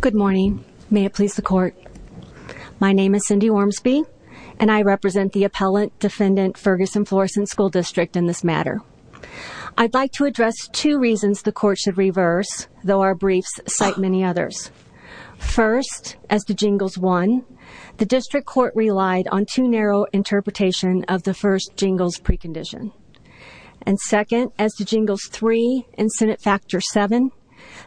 Good morning. May it please the Court. My name is Cindy Ormsby and I represent the Appellant Defendant Ferguson-Florissant School District in this matter. I'd like to address two reasons the Court should reverse, though our briefs cite many others. First, as to Jingles 1, the District Court relied on too narrow an interpretation of the first Jingles precondition. And second, as to Jingles 3 and Senate Factor 7,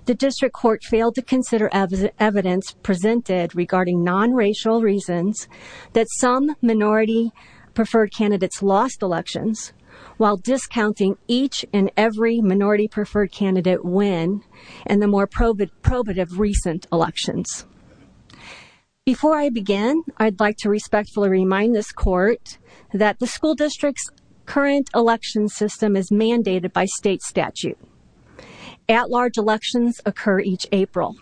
the District Court failed to consider evidence presented regarding non-racial reasons that some minority-preferred candidates lost elections, while discounting each and every minority-preferred candidate win in the more probative recent elections. Before I begin, I'd like to respectfully remind this Court that the School District's current election system is mandated by state statute. At-large elections occur each April.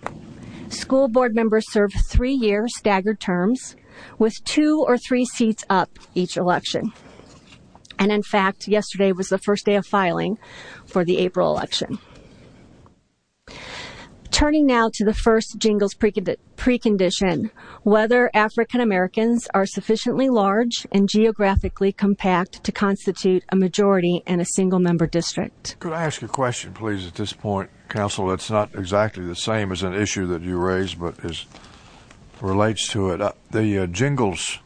School board members serve three-year staggered terms, with two or three seats up each election. And in fact, yesterday was the first day of filing for the April election. Turning now to the first Jingles precondition, whether African Americans are sufficiently large and geographically compact to constitute a majority in a single-member district. Could I ask a question, please, at this point, Counsel? It's not exactly the same as an issue that you raised, but it relates to it. The Jingles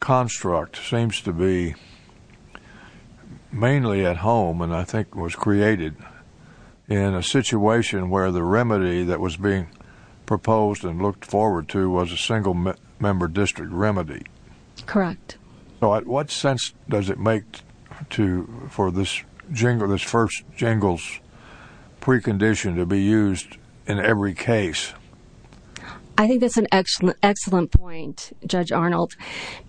construct seems to be mainly at home, and I think was created in a situation where the remedy that was being proposed and looked Correct. So what sense does it make for this first Jingles precondition to be used in every case? I think that's an excellent point, Judge Arnold,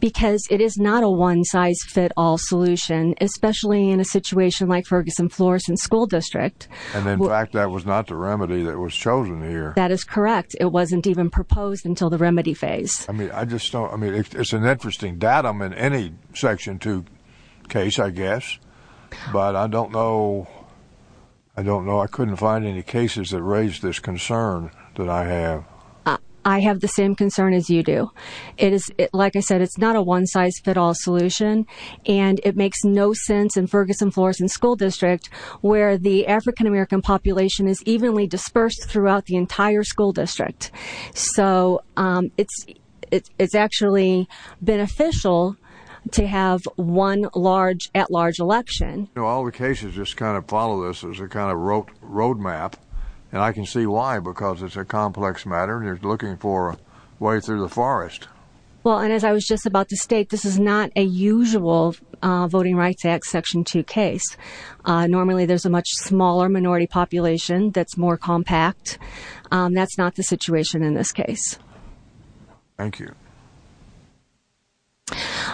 because it is not a one-size-fits-all solution, especially in a situation like Ferguson-Florissant School District. And in fact, that was not the remedy that was chosen here. That is correct. It wasn't even proposed until the remedy phase. I mean, it's an interesting datum in any Section 2 case, I guess, but I don't know. I couldn't find any cases that raised this concern that I have. I have the same concern as you do. It is, like I said, it's not a one-size-fits-all solution, and it makes no sense in Ferguson-Florissant School District, where the African American population is evenly dispersed throughout the entire school district. So it's actually beneficial to have one at-large election. You know, all the cases just kind of follow this as a kind of road map, and I can see why, because it's a complex matter, and you're looking for a way through the forest. Well, and as I was just about to state, this is not a usual Voting Rights Act Section 2 case. Normally, there's a much smaller minority population that's more compact. That's not the situation in this case. Thank you.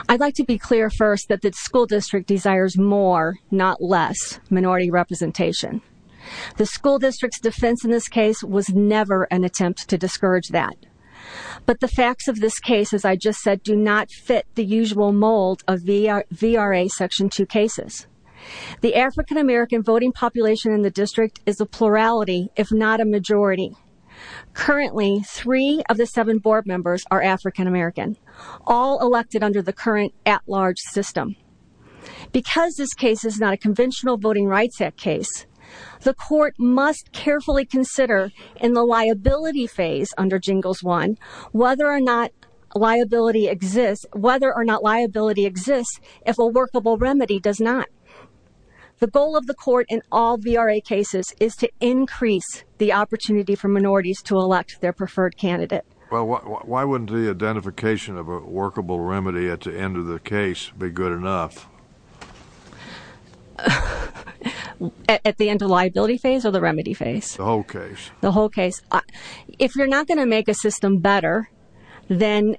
I'd like to be clear first that the school district desires more, not less, minority representation. The school district's defense in this case was never an attempt to discourage that. But the facts of this case, as I just said, do not fit the usual mold of VRA Section 2 cases. The African American voting population in the district is a plurality, if not a majority. Currently, three of the seven board members are African American, all elected under the current at-large system. Because this case is not a conventional Voting Rights Act case, the court must carefully consider, in the liability phase under Jingles 1, whether or not liability exists if a workable remedy does not. The goal of the court in all VRA cases is to increase the opportunity for minorities to elect their preferred candidate. Well, why wouldn't the identification of a workable remedy at the end of the case be good enough? At the end of the liability phase or the remedy phase? The whole case. The whole case. If you're not going to make a system better, then...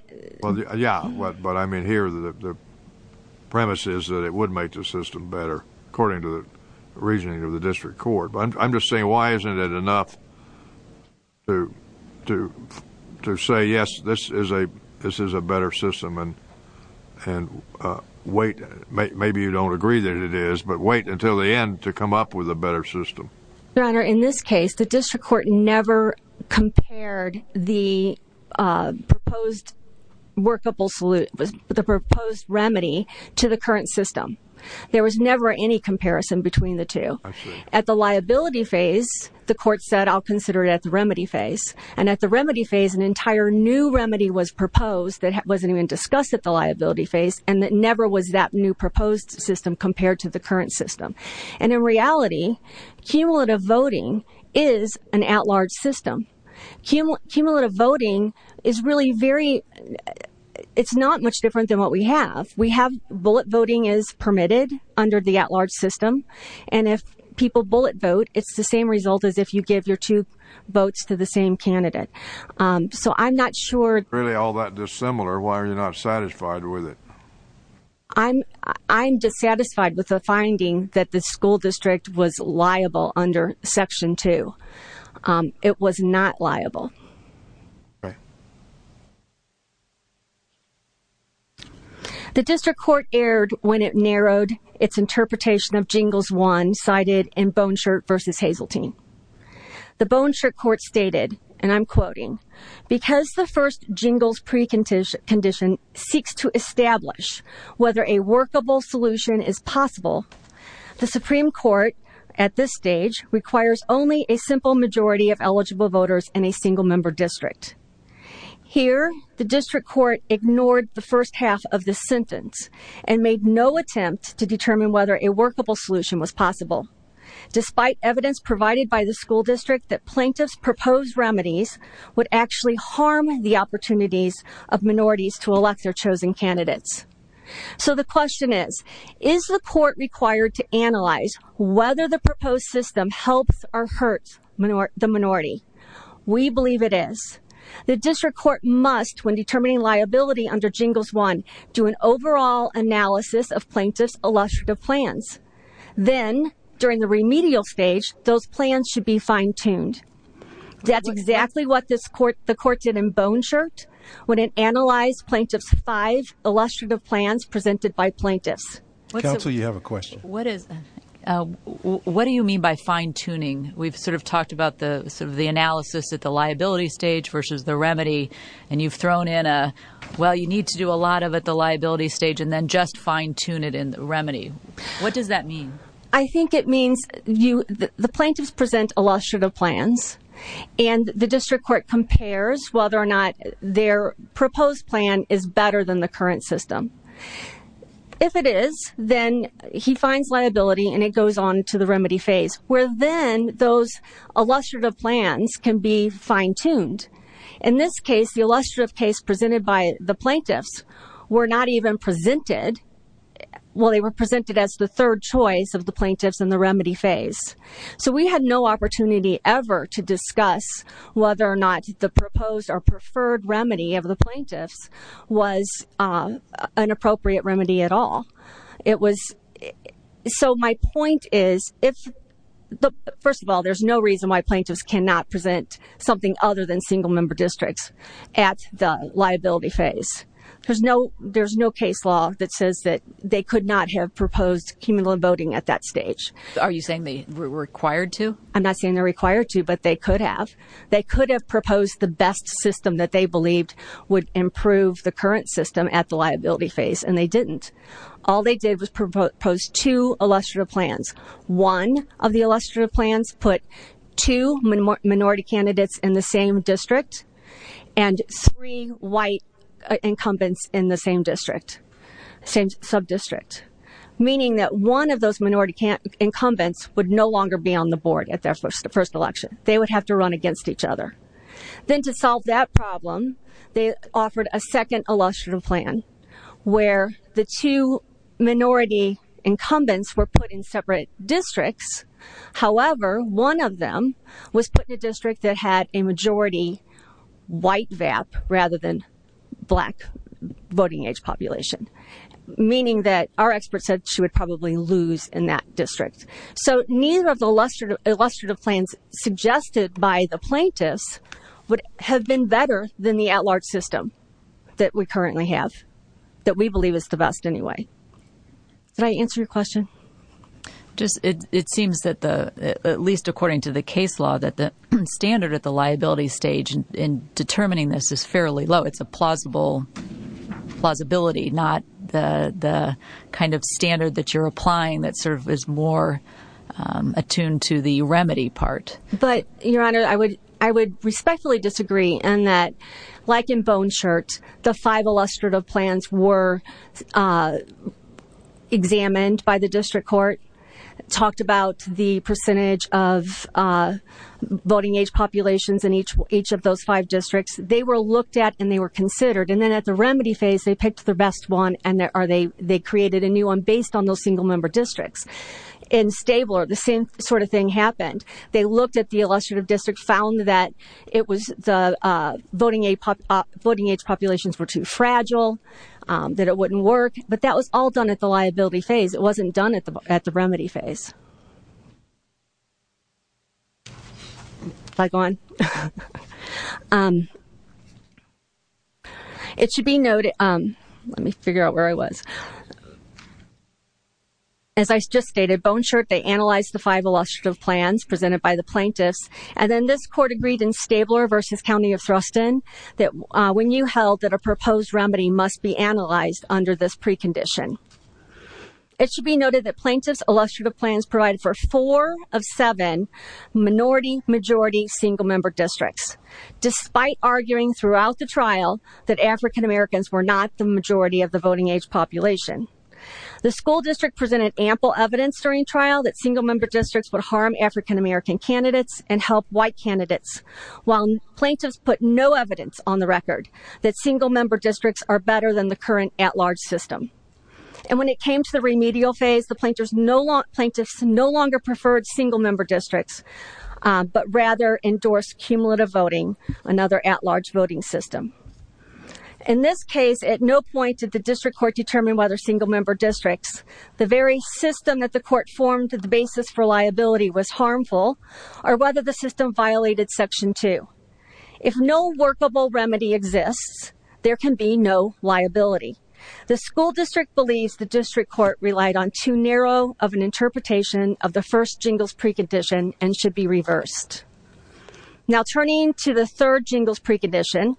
Yeah, but I mean, here the premise is that it would make the system better, according to the reasoning of the district court. But I'm just saying, why isn't it enough to say, yes, this is a better system and wait? Maybe you don't agree that it is, but wait until the end to come up with a better system. Your Honor, in this case, the district court never compared the proposed remedy to the current system. There was never any comparison between the two. At the liability phase, the court said, I'll consider it at the remedy phase. And at the remedy phase, an entire new remedy was proposed that wasn't even discussed at the liability phase, and that never was that new proposed system compared to the current system. And in reality, cumulative voting is an at-large system. Cumulative voting is really very... It's not much different than what we have. We have bullet voting is permitted under the at-large system. And if people bullet vote, it's the same result as if you give your two votes to the same candidate. So I'm not sure... Really all that dissimilar, why are you not satisfied with it? I'm dissatisfied with the finding that the school district was liable under Section 2. It was not liable. The district court erred when it narrowed its interpretation of Jingles 1, cited in Boneshirt v. Hazeltine. The Boneshirt court stated, and I'm quoting, Because the first Jingles precondition seeks to establish whether a workable solution is possible, the Supreme Court, at this stage, requires only a simple majority of eligible voters in a single-member district. Here, the district court ignored the first half of the sentence and made no attempt to determine whether a workable solution was possible. Despite evidence provided by the school district that plaintiffs' proposed remedies would actually harm the opportunities of minorities to elect their chosen candidates. So the question is, is the court required to analyze whether the proposed system helps or hurts the minority? We believe it is. The district court must, when determining liability under Jingles 1, do an overall analysis of plaintiffs' illustrative plans. Then, during the remedial stage, those plans should be fine-tuned. That's exactly what the court did in Boneshirt, when it analyzed plaintiffs' five illustrative plans presented by plaintiffs. Counsel, you have a question. What do you mean by fine-tuning? We've sort of talked about the analysis at the liability stage versus the remedy, and you've thrown in a, well, you need to do a lot of it at the liability stage and then just fine-tune it in the remedy. What does that mean? I think it means the plaintiffs present illustrative plans, and the district court compares whether or not their proposed plan is better than the current system. If it is, then he finds liability and it goes on to the remedy phase, where then those illustrative plans can be fine-tuned. In this case, the illustrative case presented by the plaintiffs were not even presented, well, they were presented as the third choice of the plaintiffs in the remedy phase. So we had no opportunity ever to discuss whether or not the proposed or preferred remedy of the plaintiffs was an appropriate remedy at all. So my point is, first of all, there's no reason why plaintiffs cannot present something other than single-member districts at the liability phase. There's no case law that says that they could not have proposed cumulative voting at that stage. Are you saying they were required to? I'm not saying they're required to, but they could have. They could have proposed the best system that they believed would improve the current system at the liability phase, and they didn't. All they did was propose two illustrative plans. One of the illustrative plans put two minority candidates in the same district and three white incumbents in the same district, same sub-district, meaning that one of those minority incumbents would no longer be on the board at their first election. They would have to run against each other. Then to solve that problem, they offered a second illustrative plan where the two minority incumbents were put in separate districts. However, one of them was put in a district that had a majority white VAP rather than black voting age population, meaning that our expert said she would probably lose in that district. So neither of the illustrative plans suggested by the plaintiffs would have been better than the at-large system that we currently have, that we believe is the best anyway. Did I answer your question? Just, it seems that the, at least according to the case law, that the standard at the liability stage in determining this is fairly low. It's a plausible, plausibility, not the kind of standard that you're applying that sort of is more attuned to the remedy part. But, Your Honor, I would respectfully disagree in that, like in Bone Shirt, the five illustrative plans were examined by the district court, talked about the percentage of voting age populations in each of those five districts. They were looked at and they were considered. And then at the remedy phase, they picked the best one and they created a new one based on those single member districts. In Stabler, the same sort of thing happened. They looked at the illustrative district, found that it was the voting age populations were too fragile, that it wouldn't work. But that was all done at the liability phase. It wasn't done at the remedy phase. If I go on. It should be noted, let me figure out where I was. As I just stated, Bone Shirt, they analyzed the five illustrative plans presented by the plaintiffs. And then this court agreed in Stabler versus County of Thruston, that when you held that a proposed remedy must be analyzed under this precondition. It should be noted that plaintiffs' illustrative plans provided for four of seven minority-majority single member districts, despite arguing throughout the trial that African-Americans were not the majority of the voting age population. The school district presented ample evidence during trial that single member districts would harm African-American candidates and help white candidates. While plaintiffs put no evidence on the record that single member districts are better than the current at-large system. And when it came to the remedial phase, the plaintiffs no longer preferred single member districts, but rather endorsed cumulative voting, another at-large voting system. In this case, at no point did the district court determine whether single member districts, the very system that the court formed to the basis for liability was harmful, or whether the system violated section two. If no workable remedy exists, there can be no liability. The school district believes the district court relied on too narrow of an interpretation of the first jingles precondition and should be reversed. Now turning to the third jingles precondition,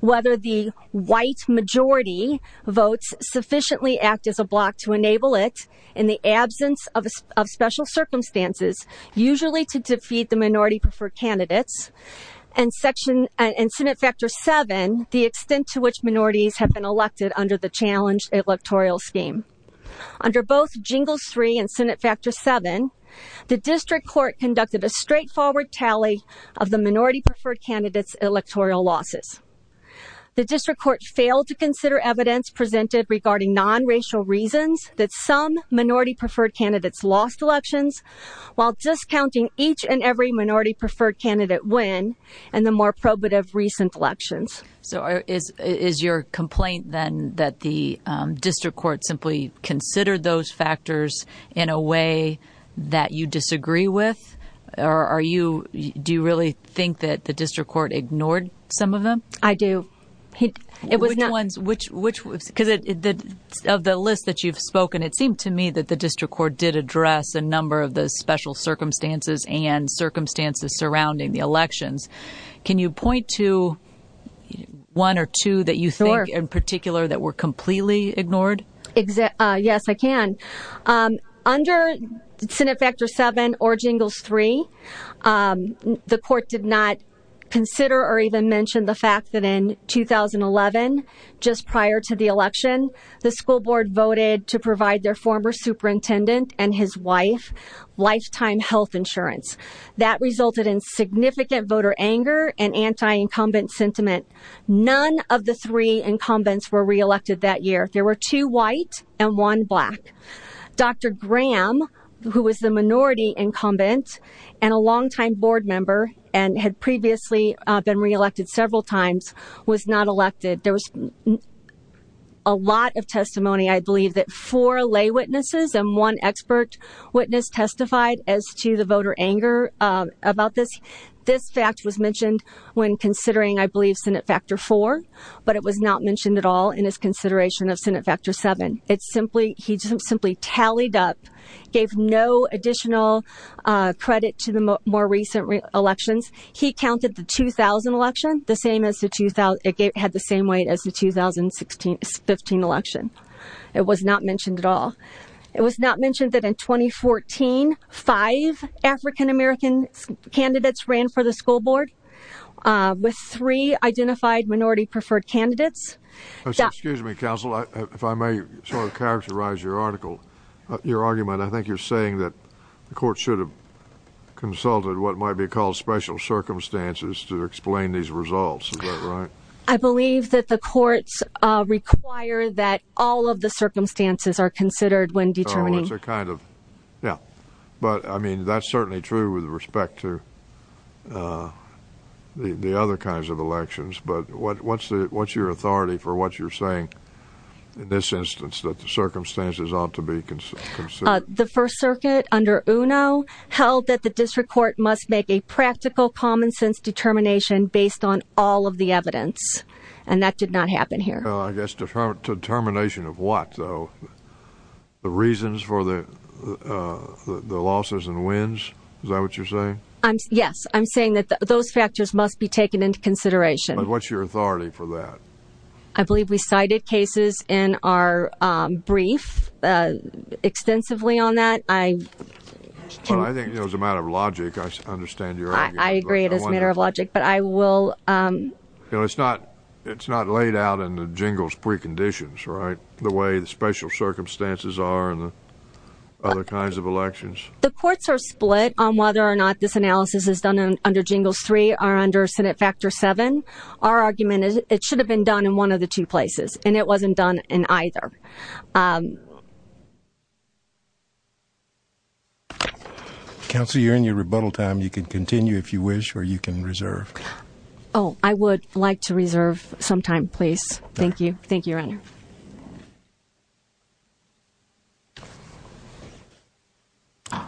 whether the white majority votes sufficiently act as a block to enable it in the absence of special circumstances, usually to defeat the minority preferred candidates. And Senate factor seven, the extent to which minorities have been elected under the challenge electoral scheme. Under both jingles three and Senate factor seven, the district court conducted a straightforward tally of the minority preferred candidates electoral losses. The district court failed to consider evidence presented regarding non-racial reasons that some minority preferred candidates lost elections, while discounting each and every minority preferred candidate win in the more probative recent elections. So is your complaint then that the district court simply considered those factors in a way that you disagree with? Or are you, do you really think that the district court ignored some of them? I do. It was not. Which ones, which, which was, because of the list that you've spoken, it seemed to me that the district court did address a number of the special circumstances and circumstances surrounding the elections. Can you point to one or two that you think in particular that were completely ignored? Exactly. Yes, I can. Under Senate factor seven or jingles three, um, the court did not consider or even mention the fact that in 2011, just prior to the election, the school board voted to provide their former superintendent and his wife lifetime health insurance. That resulted in significant voter anger and anti-incumbent sentiment. None of the three incumbents were reelected that year. There were two white and one black. Dr. Graham, who was the minority incumbent and a longtime board member and had previously been reelected several times, was not elected. There was a lot of testimony. I believe that four lay witnesses and one expert witness testified as to the voter anger about this. This fact was mentioned when considering, I believe Senate factor four, but it was not mentioned at all in his consideration of Senate factor seven. It's simply he just simply tallied up, gave no additional credit to the more recent elections. He counted the 2000 election the same as the 2000. It had the same weight as the 2016, 15 election. It was not mentioned at all. It was not mentioned that in 2014, five African-American candidates ran for the school board with three identified minority preferred candidates. Excuse me, counsel. If I may sort of characterize your article, your argument, I think you're saying that the court should have consulted what might be called special circumstances to explain these results. Is that right? I believe that the courts require that all of the circumstances are considered when determining. It's a kind of. Yeah, but I mean, that's certainly true with respect to the other kinds of elections. But what's your authority for what you're saying in this instance that the circumstances ought to be considered? The First Circuit under UNO held that the district court must make a practical common sense determination based on all of the evidence. And that did not happen here. I guess determination of what, though? The reasons for the losses and wins. Is that what you're saying? Yes, I'm saying that those factors must be taken into consideration. What's your authority for that? I believe we cited cases in our brief extensively on that. I think it was a matter of logic. I understand your I agree. It is a matter of logic, but I will. You know, it's not it's not laid out in the jingles preconditions, right? The way the special circumstances are in the other kinds of elections. The courts are split on whether or not this analysis is done under jingles. Three are under Senate Factor seven. Our argument is it should have been done in one of the two places, and it wasn't done in either. Counselor, you're in your rebuttal time. You can continue if you wish, or you can reserve. Oh, I would like to reserve some time, please. Thank you. Thank you. Thank you.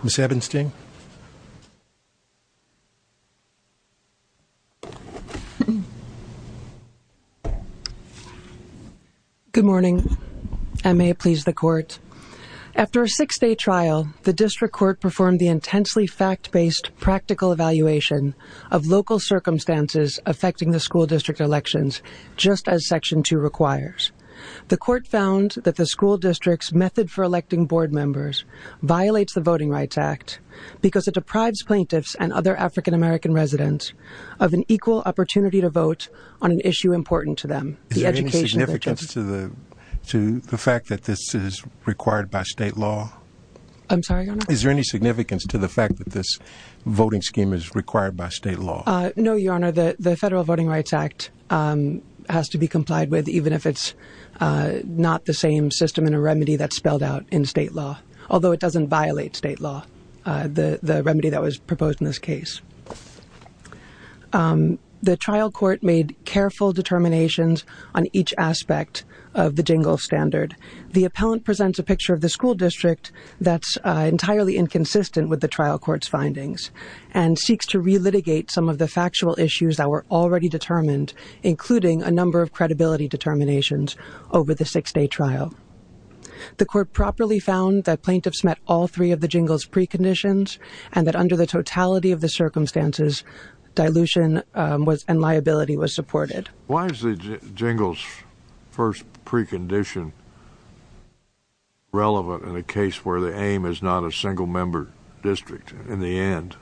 Ms. Ebenstein. Good morning. I may please the court. After a six day trial, the district court performed the intensely fact based practical evaluation of local circumstances affecting the school district elections, just as Section two requires. The court found that the school district's method for electing board members violates the Voting Rights Act because it deprives plaintiffs and other African-American residents of an equal opportunity to vote on an issue important to them. Is there any significance to the fact that this is required by state law? I'm sorry. Is there any significance to the fact that this voting scheme is required by state law? No, Your Honor, the Federal Voting Rights Act has to be complied with even if it's not the same system in a remedy that's spelled out in state law, although it doesn't violate state law, the remedy that was proposed in this case. The trial court made careful determinations on each aspect of the jingle standard. The appellant presents a picture of the school district that's entirely inconsistent with the trial court's findings and seeks to relitigate some of the factual issues that were already determined, including a number of credibility determinations over the six-day trial. The court properly found that plaintiffs met all three of the jingle's preconditions and that under the totality of the circumstances, dilution and liability was supported. Why is the jingle's first precondition relevant in a case where the aim is not a single-member district in the end?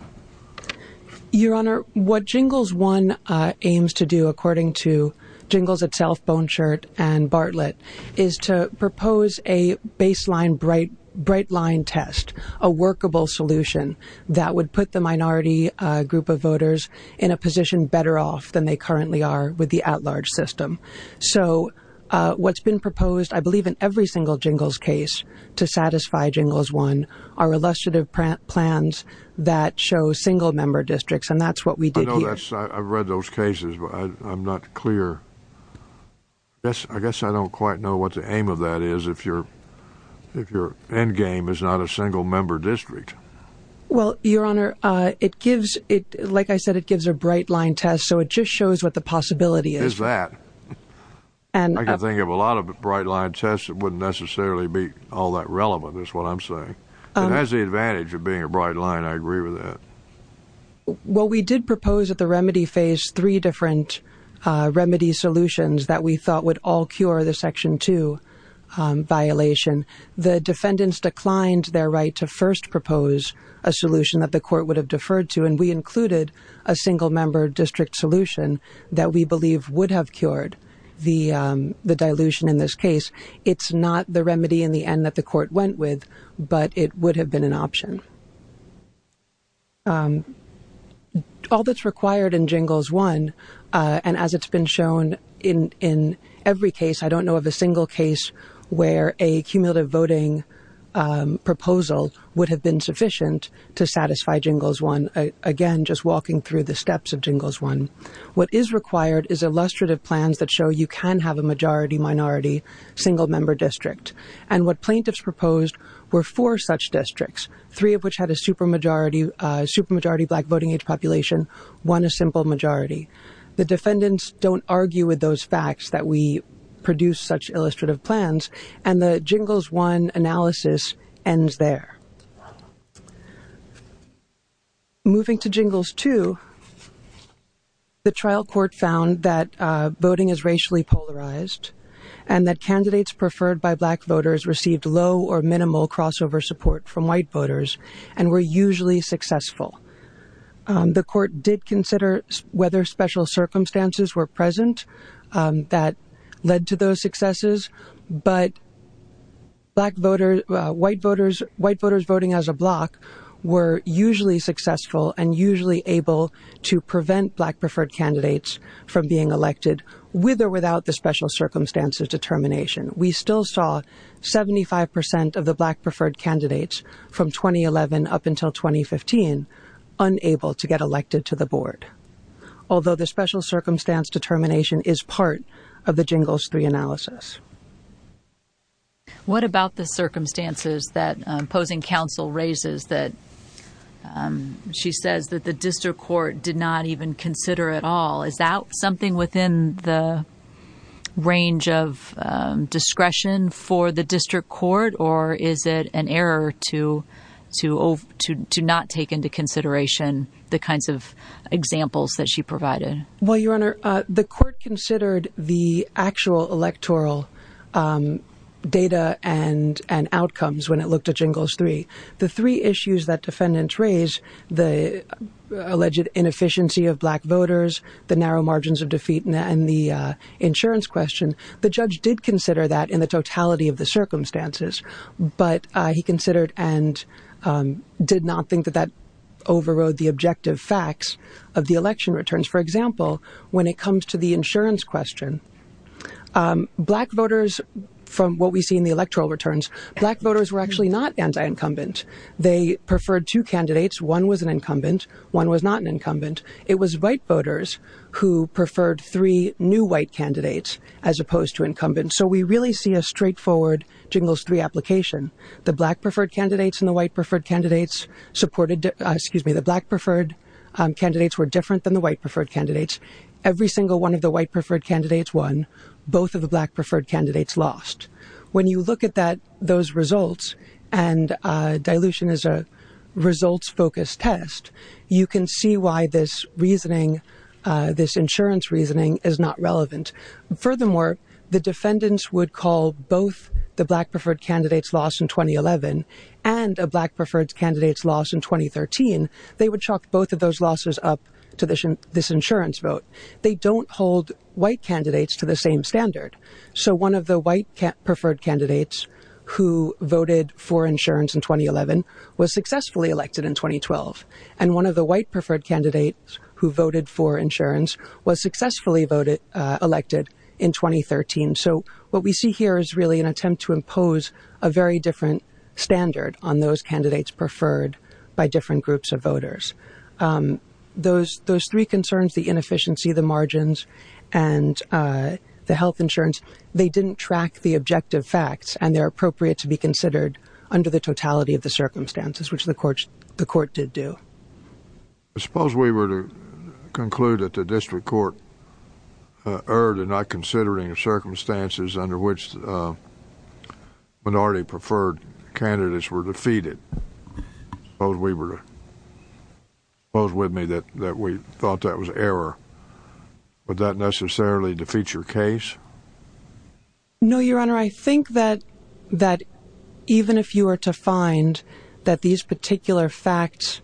Your Honor, what Jingles 1 aims to do, according to Jingles itself, Bone Shirt and Bartlett, is to propose a baseline bright line test, a workable solution that would put the minority group of voters in a position better off than they currently are with the at-large system. So what's been proposed, I believe in every single Jingles case to satisfy Jingles 1 are illustrative plans that show single-member districts, and that's what we did here. I've read those cases, but I'm not clear. I guess I don't quite know what the aim of that is if your endgame is not a single-member district. Well, Your Honor, like I said, it gives a bright line test, so it just shows what the possibility is. Is that. I can think of a lot of bright line tests that wouldn't necessarily be all that relevant is what I'm saying, and that's the advantage of being a bright line. I agree with that. Well, we did propose at the remedy phase three different remedy solutions that we thought would all cure the Section 2 violation. The defendants declined their right to first propose a solution that the court would have deferred to, and we included a single-member district solution that we believe would have the court went with, but it would have been an option. All that's required in Jingles 1, and as it's been shown in every case, I don't know of a single case where a cumulative voting proposal would have been sufficient to satisfy Jingles 1. Again, just walking through the steps of Jingles 1. What is required is illustrative plans that show you can have a majority-minority single-member district, and what plaintiffs proposed were four such districts, three of which had a supermajority black voting age population, one a simple majority. The defendants don't argue with those facts that we produce such illustrative plans, and the Jingles 1 analysis ends there. Moving to Jingles 2, the trial court found that voting is racially polarized and that candidates preferred by black voters received low or minimal crossover support from white voters and were usually successful. The court did consider whether special circumstances were present that led to those successes, but white voters voting as a block were usually successful and usually able to determine. We still saw 75 percent of the black preferred candidates from 2011 up until 2015 unable to get elected to the board, although the special circumstance determination is part of the Jingles 3 analysis. What about the circumstances that opposing counsel raises that she says that the district court did not even consider at all? Is that something within the range of discretion for the district court, or is it an error to not take into consideration the kinds of examples that she provided? Well, Your Honor, the court considered the actual electoral data and outcomes when it looked at Jingles 3. The three issues that defendants raised, the alleged inefficiency of black voters, the narrow margins of defeat, and the insurance question, the judge did consider that in the totality of the circumstances, but he considered and did not think that that overrode the objective facts of the election returns. For example, when it comes to the insurance question, black voters, from what we see in the electoral returns, black voters were actually not anti-incumbent. They preferred two candidates. One was an incumbent. One was not an incumbent. It was white voters who preferred three new white candidates as opposed to incumbents. So we really see a straightforward Jingles 3 application. The black preferred candidates and the white preferred candidates supported, excuse me, the black preferred candidates were different than the white preferred candidates. Every single one of the white preferred candidates won. Both of the black preferred candidates lost. When you look at that, those results, and dilution is a results-focused test, you can see why this reasoning, this insurance reasoning is not relevant. Furthermore, the defendants would call both the black preferred candidates lost in 2011 and a black preferred candidates lost in 2013. They would chalk both of those losses up to this insurance vote. They don't hold white candidates to the same standard. So one of the white preferred candidates who voted for insurance in 2011 was successfully elected in 2012. And one of the white preferred candidates who voted for insurance was successfully elected in 2013. So what we see here is really an attempt to impose a very different standard on those candidates preferred by different groups of voters. Those three concerns, the inefficiency, the margins, and the health insurance, they didn't track the objective facts and they're appropriate to be considered under the totality of the circumstances, which the court did do. I suppose we were to conclude that the district court erred in not considering the circumstances under which minority preferred candidates were defeated. Suppose we thought that was error. Would that necessarily defeat your case? No, Your Honor. I think that even if you were to find that these particular facts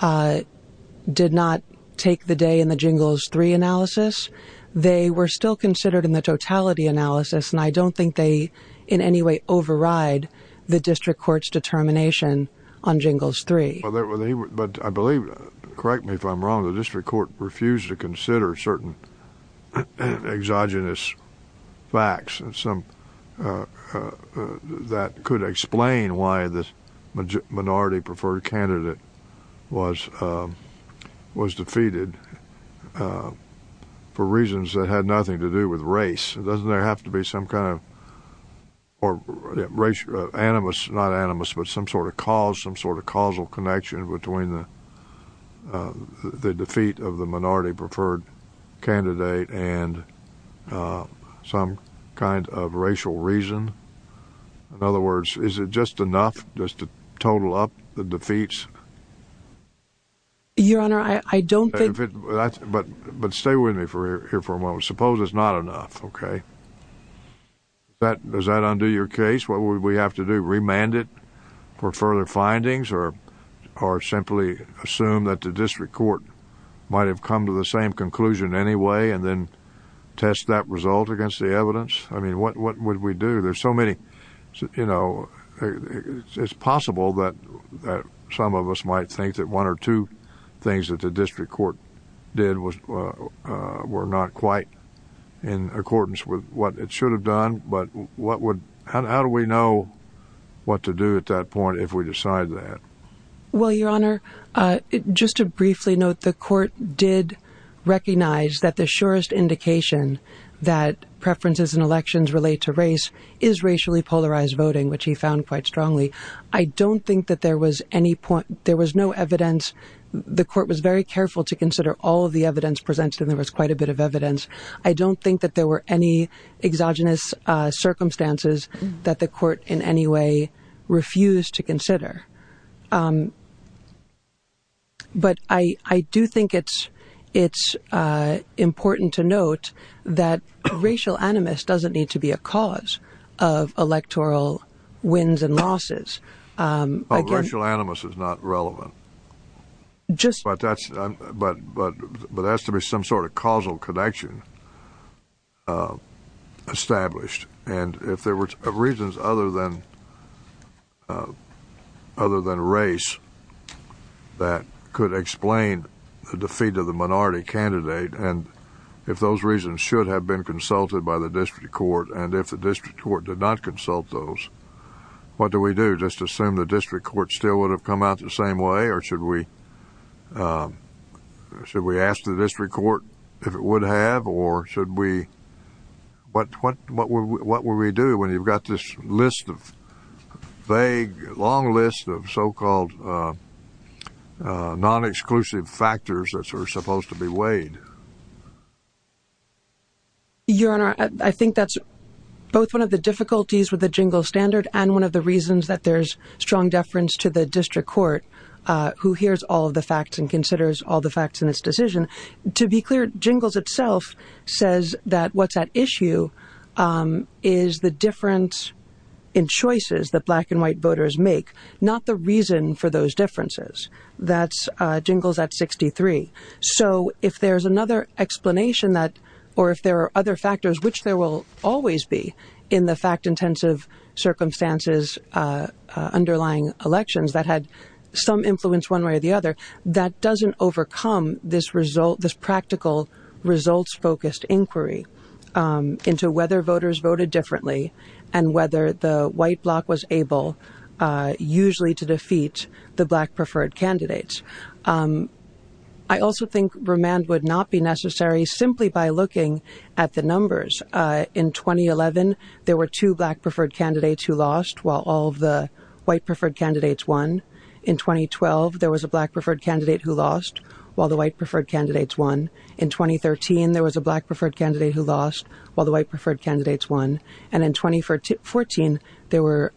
did not take the day in the Jingles 3 analysis, they were still considered in the totality analysis and I on Jingles 3. But I believe, correct me if I'm wrong, the district court refused to consider certain exogenous facts that could explain why the minority preferred candidate was defeated for reasons that had nothing to do with race. Doesn't there have to be some kind of, or animus, not animus, but some sort of cause, some sort of causal connection between the defeat of the minority preferred candidate and some kind of racial reason? In other words, is it just enough just to total up the defeats? Your Honor, I don't think... But stay with me here for a moment. Suppose it's not enough, okay? Does that undo your case? What would we have to do, remand it for further findings or simply assume that the district court might have come to the same conclusion anyway and then test that result against the evidence? I mean, what would we do? There's so many, you know, it's possible that some of us might think that one or two things that the district court did were not quite in accordance with what it should have done. But how do we know what to do at that point if we decide that? Well, Your Honor, just to briefly note, the court did recognize that the surest indication that preferences in elections relate to race is racially polarized voting, which he found quite strongly. I don't think that there was any point... There was no evidence. The court was very careful to consider all of the evidence presented. There was quite a bit of evidence. I don't think that there were any exogenous circumstances that the court in any way refused to consider. But I do think it's important to note that racial animus doesn't need to be a cause of race. Racial animus is not relevant, but that's to be some sort of causal connection established. And if there were reasons other than race that could explain the defeat of the minority candidate, and if those reasons should have been consulted by the district court, and if the district court did not consult those, what do we do? Just assume the district court still would have come out the same way? Or should we ask the district court if it would have? Or what would we do when you've got this list of vague, long list of so-called non-exclusive factors that are supposed to be weighed? Your Honor, I think that's both one of the difficulties with the Jingles standard and one of the reasons that there's strong deference to the district court, who hears all of the facts and considers all the facts in its decision. To be clear, Jingles itself says that what's at issue is the difference in choices that black and white voters make, not the reason for those differences. That's Jingles at 63. So if there's another explanation that, or if there are other factors, which there will always be in the fact-intensive circumstances underlying elections that had some influence one way or the other, that doesn't overcome this practical results-focused inquiry into whether voters voted differently and whether the white bloc was able usually to defeat the black preferred candidates. I also think remand would not be necessary simply by looking at the numbers. In 2011, there were two black-preferred candidates who lost while all the white-preferred candidates won. In 2012, there was a black-preferred candidate who lost while the white-preferred candidates won. In 2013, there was a black-preferred candidate who lost while the white-preferred candidates won. And in 2014, there were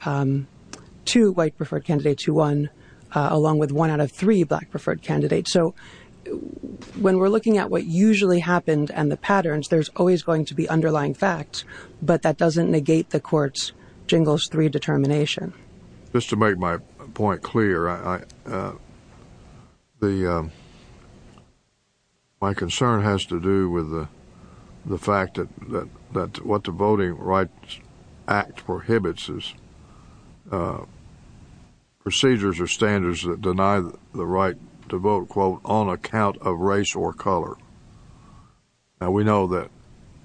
two white-preferred candidates who won, along with one out of three black-preferred candidates. So, when we're looking at what usually happened and the patterns, there's always going to be underlying facts, but that doesn't negate the court's Jingles 3 determination. Just to make my point clear, my concern has to do with the fact that what the Voting Rights Act prohibits is procedures or standards that deny the right to vote, quote, on account of race or color. We know that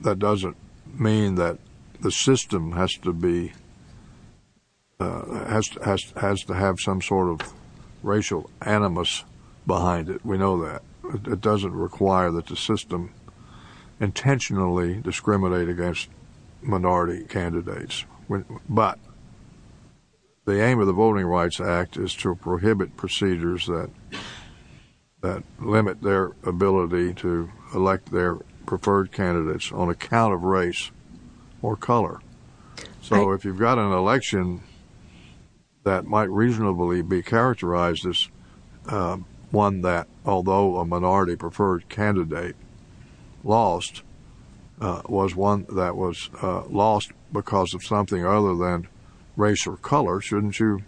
that doesn't mean that the system has to have some sort of racial animus behind it. We know that. It doesn't require that the system intentionally discriminate against minority candidates. But the aim of the Voting Rights Act is to prohibit procedures that limit their ability to elect their preferred candidates on account of race or color. So if you've got an election that might reasonably be characterized as one that, although a minority preferred candidate lost, was one that was lost because of something other than race or color, shouldn't you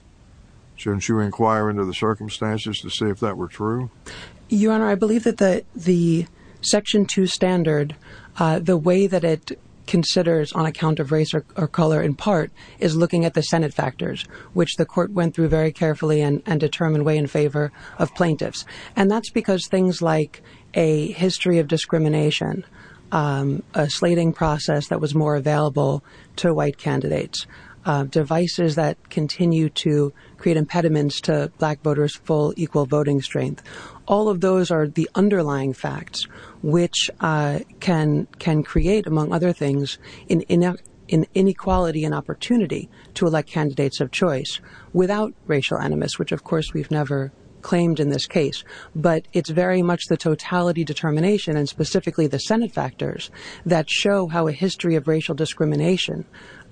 inquire into the circumstances to see if that were true? Your Honor, I believe that the Section 2 standard, the way that it considers on account of race or color, in part, is looking at the Senate factors, which the court went through very carefully and determined way in favor of plaintiffs. And that's because things like a history of discrimination, a slating process that was more available to white candidates, devices that continue to create impediments to black voters' full equal voting strength. All of those are the underlying facts which can create, among other things, an inequality and opportunity to elect candidates of choice without racial animus, which of course we've never claimed in this case. But it's very much the totality determination, and specifically the Senate factors, that show how a history of racial discrimination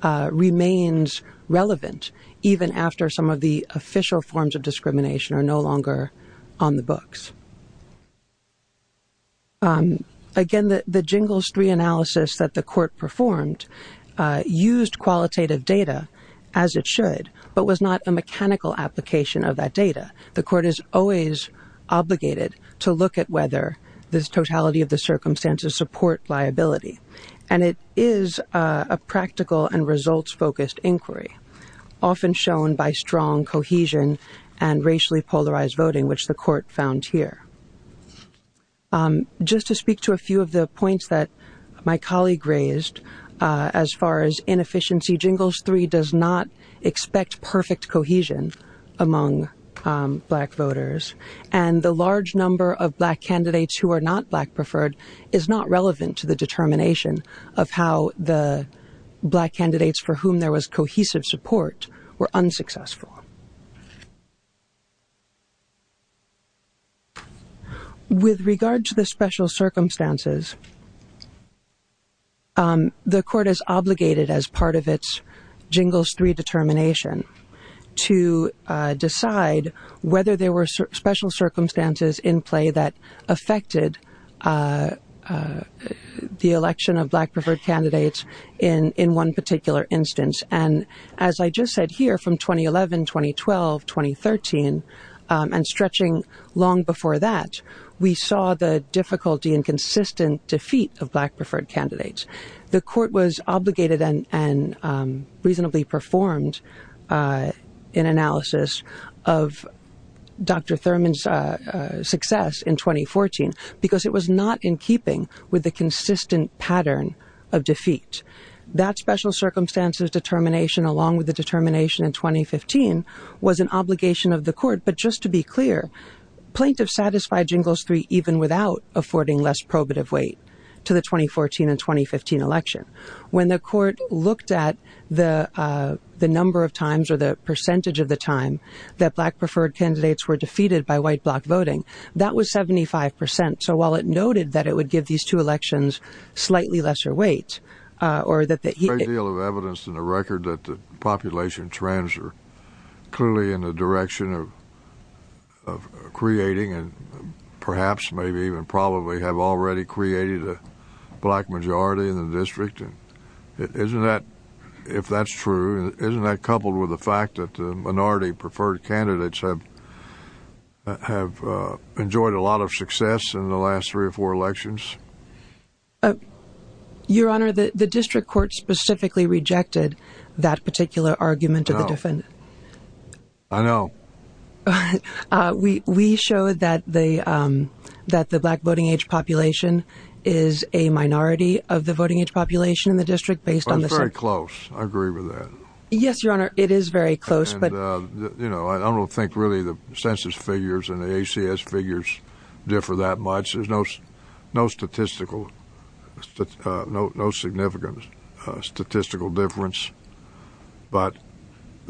remains relevant even after some of the official forms of discrimination are no longer on the books. Again, the jingles three analysis that the court performed used qualitative data, as it should, but was not a mechanical application of that data. The court is always obligated to look at whether this totality of the circumstances support liability. And it is a practical and results-focused inquiry, often shown by strong cohesion and racially polarized voting, which the court found here. Just to speak to a few of the points that my colleague raised as far as inefficiency, jingles three does not expect perfect cohesion among black voters. And the large number of black candidates who are not black-preferred is not relevant to the determination of how the black candidates for whom there was cohesive support were unsuccessful. With regard to the special circumstances, the court is obligated, as part of its jingles three determination, to decide whether there were special circumstances in play that affected the election of black-preferred candidates in one particular instance. As I just said here, from 2011, 2012, 2013, and stretching long before that, we saw the difficulty in consistent defeat of black-preferred candidates. The court was obligated and reasonably performed an analysis of Dr. Thurman's success in 2014 because it was not in keeping with the consistent pattern of defeat. That special circumstances determination, along with the determination in 2015, was an obligation of the court. But just to be clear, plaintiffs satisfied jingles three even without affording less probative weight to the 2014 and 2015 election. When the court looked at the number of times or the percentage of the time that black-preferred candidates were defeated by white-block voting, that was 75 percent. So while it noted that it would give these two elections slightly lesser weight, or that the... There's a great deal of evidence in the record that the population trends are clearly in the direction of creating and perhaps, maybe even probably, have already created a black majority in the district. Isn't that, if that's true, isn't that coupled with the fact that the minority-preferred candidates have enjoyed a lot of success in the last three or four elections? Your Honor, the district court specifically rejected that particular argument of the defendant. We show that the black voting-age population is a minority of the voting-age population in the district based on the... It's very close. I agree with that. Yes, Your Honor, it is very close. But, you know, I don't think really the census figures and the ACS figures differ that much. There's no statistical, no significant statistical difference. But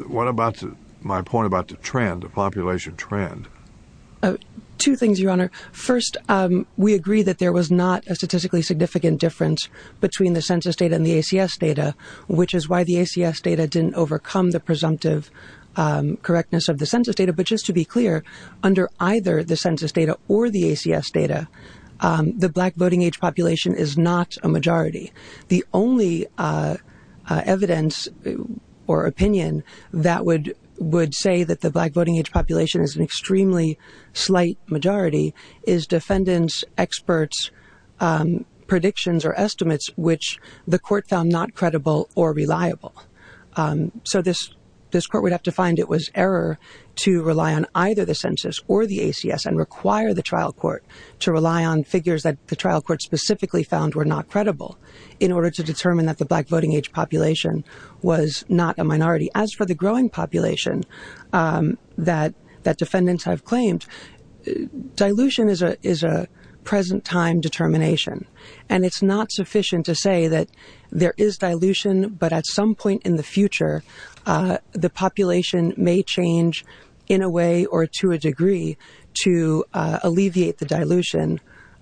what about my point about the trend, the population trend? Two things, Your Honor. First, we agree that there was not a statistically significant difference between the census data and the ACS data, which is why the ACS data didn't overcome the presumptive correctness of the census data. But just to be clear, under either the census data or the ACS data, the black voting-age population is not a majority. The only evidence or opinion that would say that the black voting-age population is an extremely slight majority is defendants' experts' predictions or estimates, which the court found not credible or reliable. So this court would have to find it was error to rely on either the census or the ACS and require the trial court to rely on figures that the trial court specifically found were not credible in order to determine that the black voting-age population was not a minority. As for the growing population that defendants have claimed, dilution is a present-time determination. And it's not sufficient to say that there is dilution, but at some point in the future, the population may change in a way or to a degree to alleviate the dilution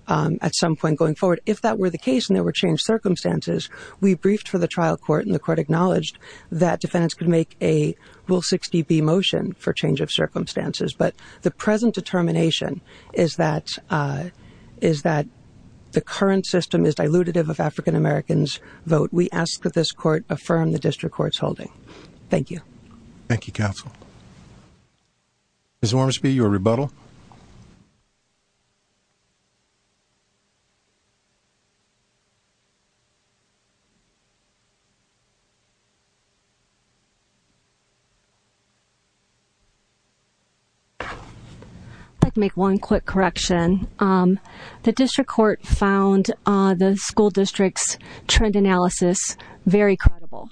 at some point going forward. If that were the case and there were changed circumstances, we briefed for the trial court and the court acknowledged that defendants could make a Rule 60B motion for change of their decision. The current system is dilutive of African-Americans' vote. We ask that this court affirm the district court's holding. Thank you. Thank you, counsel. Ms. Wormsby, your rebuttal. If I could make one quick correction. The district court found the school district's trend analysis very credible.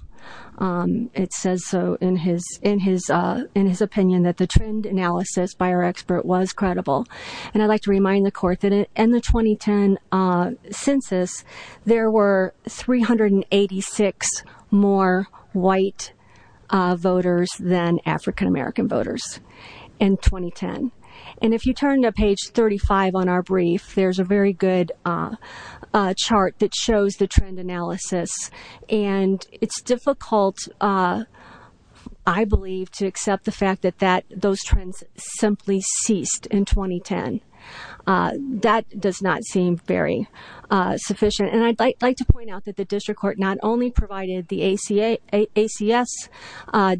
It says so in his opinion that the trend analysis by our expert was credible. And I'd like to remind the court that in the 2010 census, there were 386 more white voters than African-American voters in 2010. And if you turn to page 35 on our brief, there's a very good chart that shows the trend analysis. And it's difficult, I believe, to accept the fact that those trends simply ceased in 2010. That does not seem very sufficient. And I'd like to point out that the district court not only provided the ACS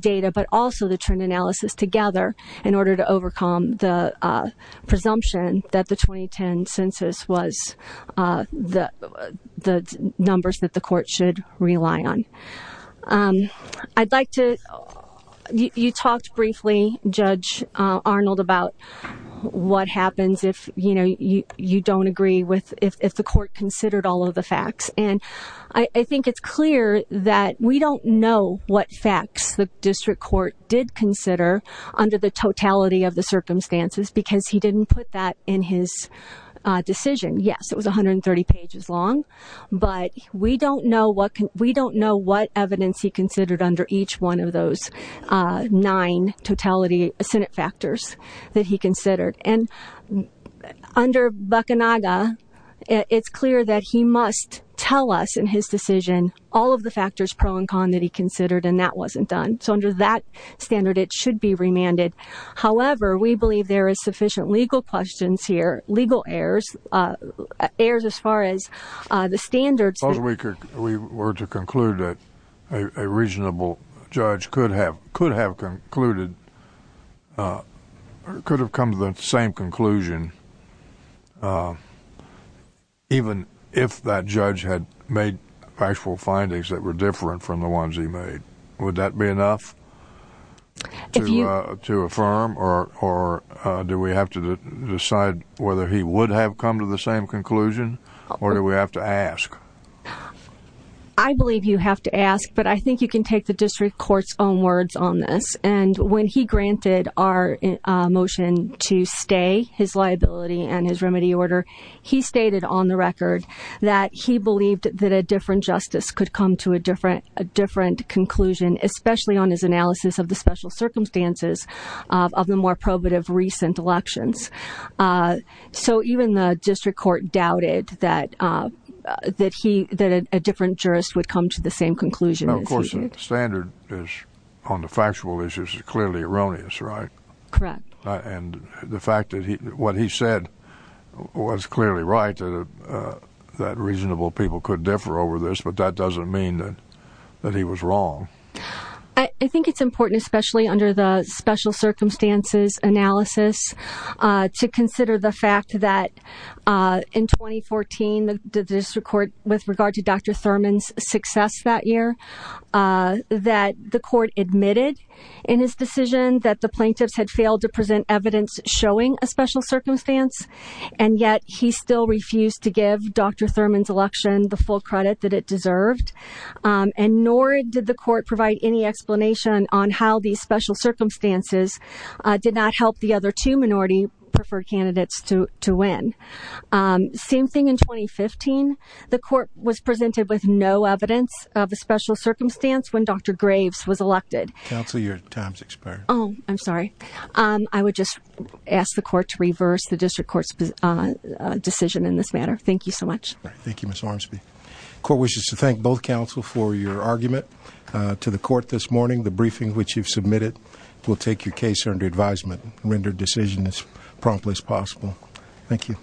data but also the trend analysis together in order to overcome the presumption that the 2010 census was the numbers that the court should rely on. You talked briefly, Judge Arnold, about what happens if you don't agree, if the court considered all of the facts. And I think it's clear that we don't know what facts the district court did consider under the totality of the circumstances because he didn't put that in his decision. Yes, it was 130 pages long, but we don't know what evidence he considered under each one of those nine totality Senate factors that he considered. And under Bacanaga, it's clear that he must tell us in his decision all of the factors pro and con that he considered, and that wasn't done. So under that standard, it should be remanded. However, we believe there is sufficient legal questions here, legal errors, errors as far as the standards. We were to conclude that a reasonable judge could have concluded, could have come to the same conclusion even if that judge had made factual findings that were different from the ones he made. Would that be enough to affirm, or do we have to decide whether he would have come to the same conclusion, or do we have to ask? I believe you have to ask, but I think you can take the district court's own words on this. When he granted our motion to stay his liability and his remedy order, he stated on the record that he believed that a different justice could come to a different conclusion, especially on his analysis of the special circumstances of the more probative recent elections. So even the district court doubted that a different jurist would come to the same conclusion as he did. Of course, the standard on the factual issues is clearly erroneous, right? Correct. And the fact that what he said was clearly right, that reasonable people could differ over this, but that doesn't mean that he was wrong. I think it's important, especially under the special circumstances analysis, to consider the fact that in 2014, the district court, with regard to Dr. Thurman's success that year, that the court admitted in his decision that the plaintiffs had failed to present evidence showing a special circumstance, and yet he still refused to give Dr. Thurman's election the full credit that it deserved, and nor did the court provide any explanation on how these special circumstances did not help the other two minority preferred candidates to win. Same thing in 2015. The court was presented with no evidence of a special circumstance when Dr. Graves was elected. Counsel, your time's expired. Oh, I'm sorry. I would just ask the court to reverse the district court's decision in this matter. Thank you so much. Thank you, Ms. Ormsby. The court wishes to thank both counsel for your argument to the court this morning. The briefing which you've submitted will take your case under advisement and render a decision as promptly as possible. Thank you.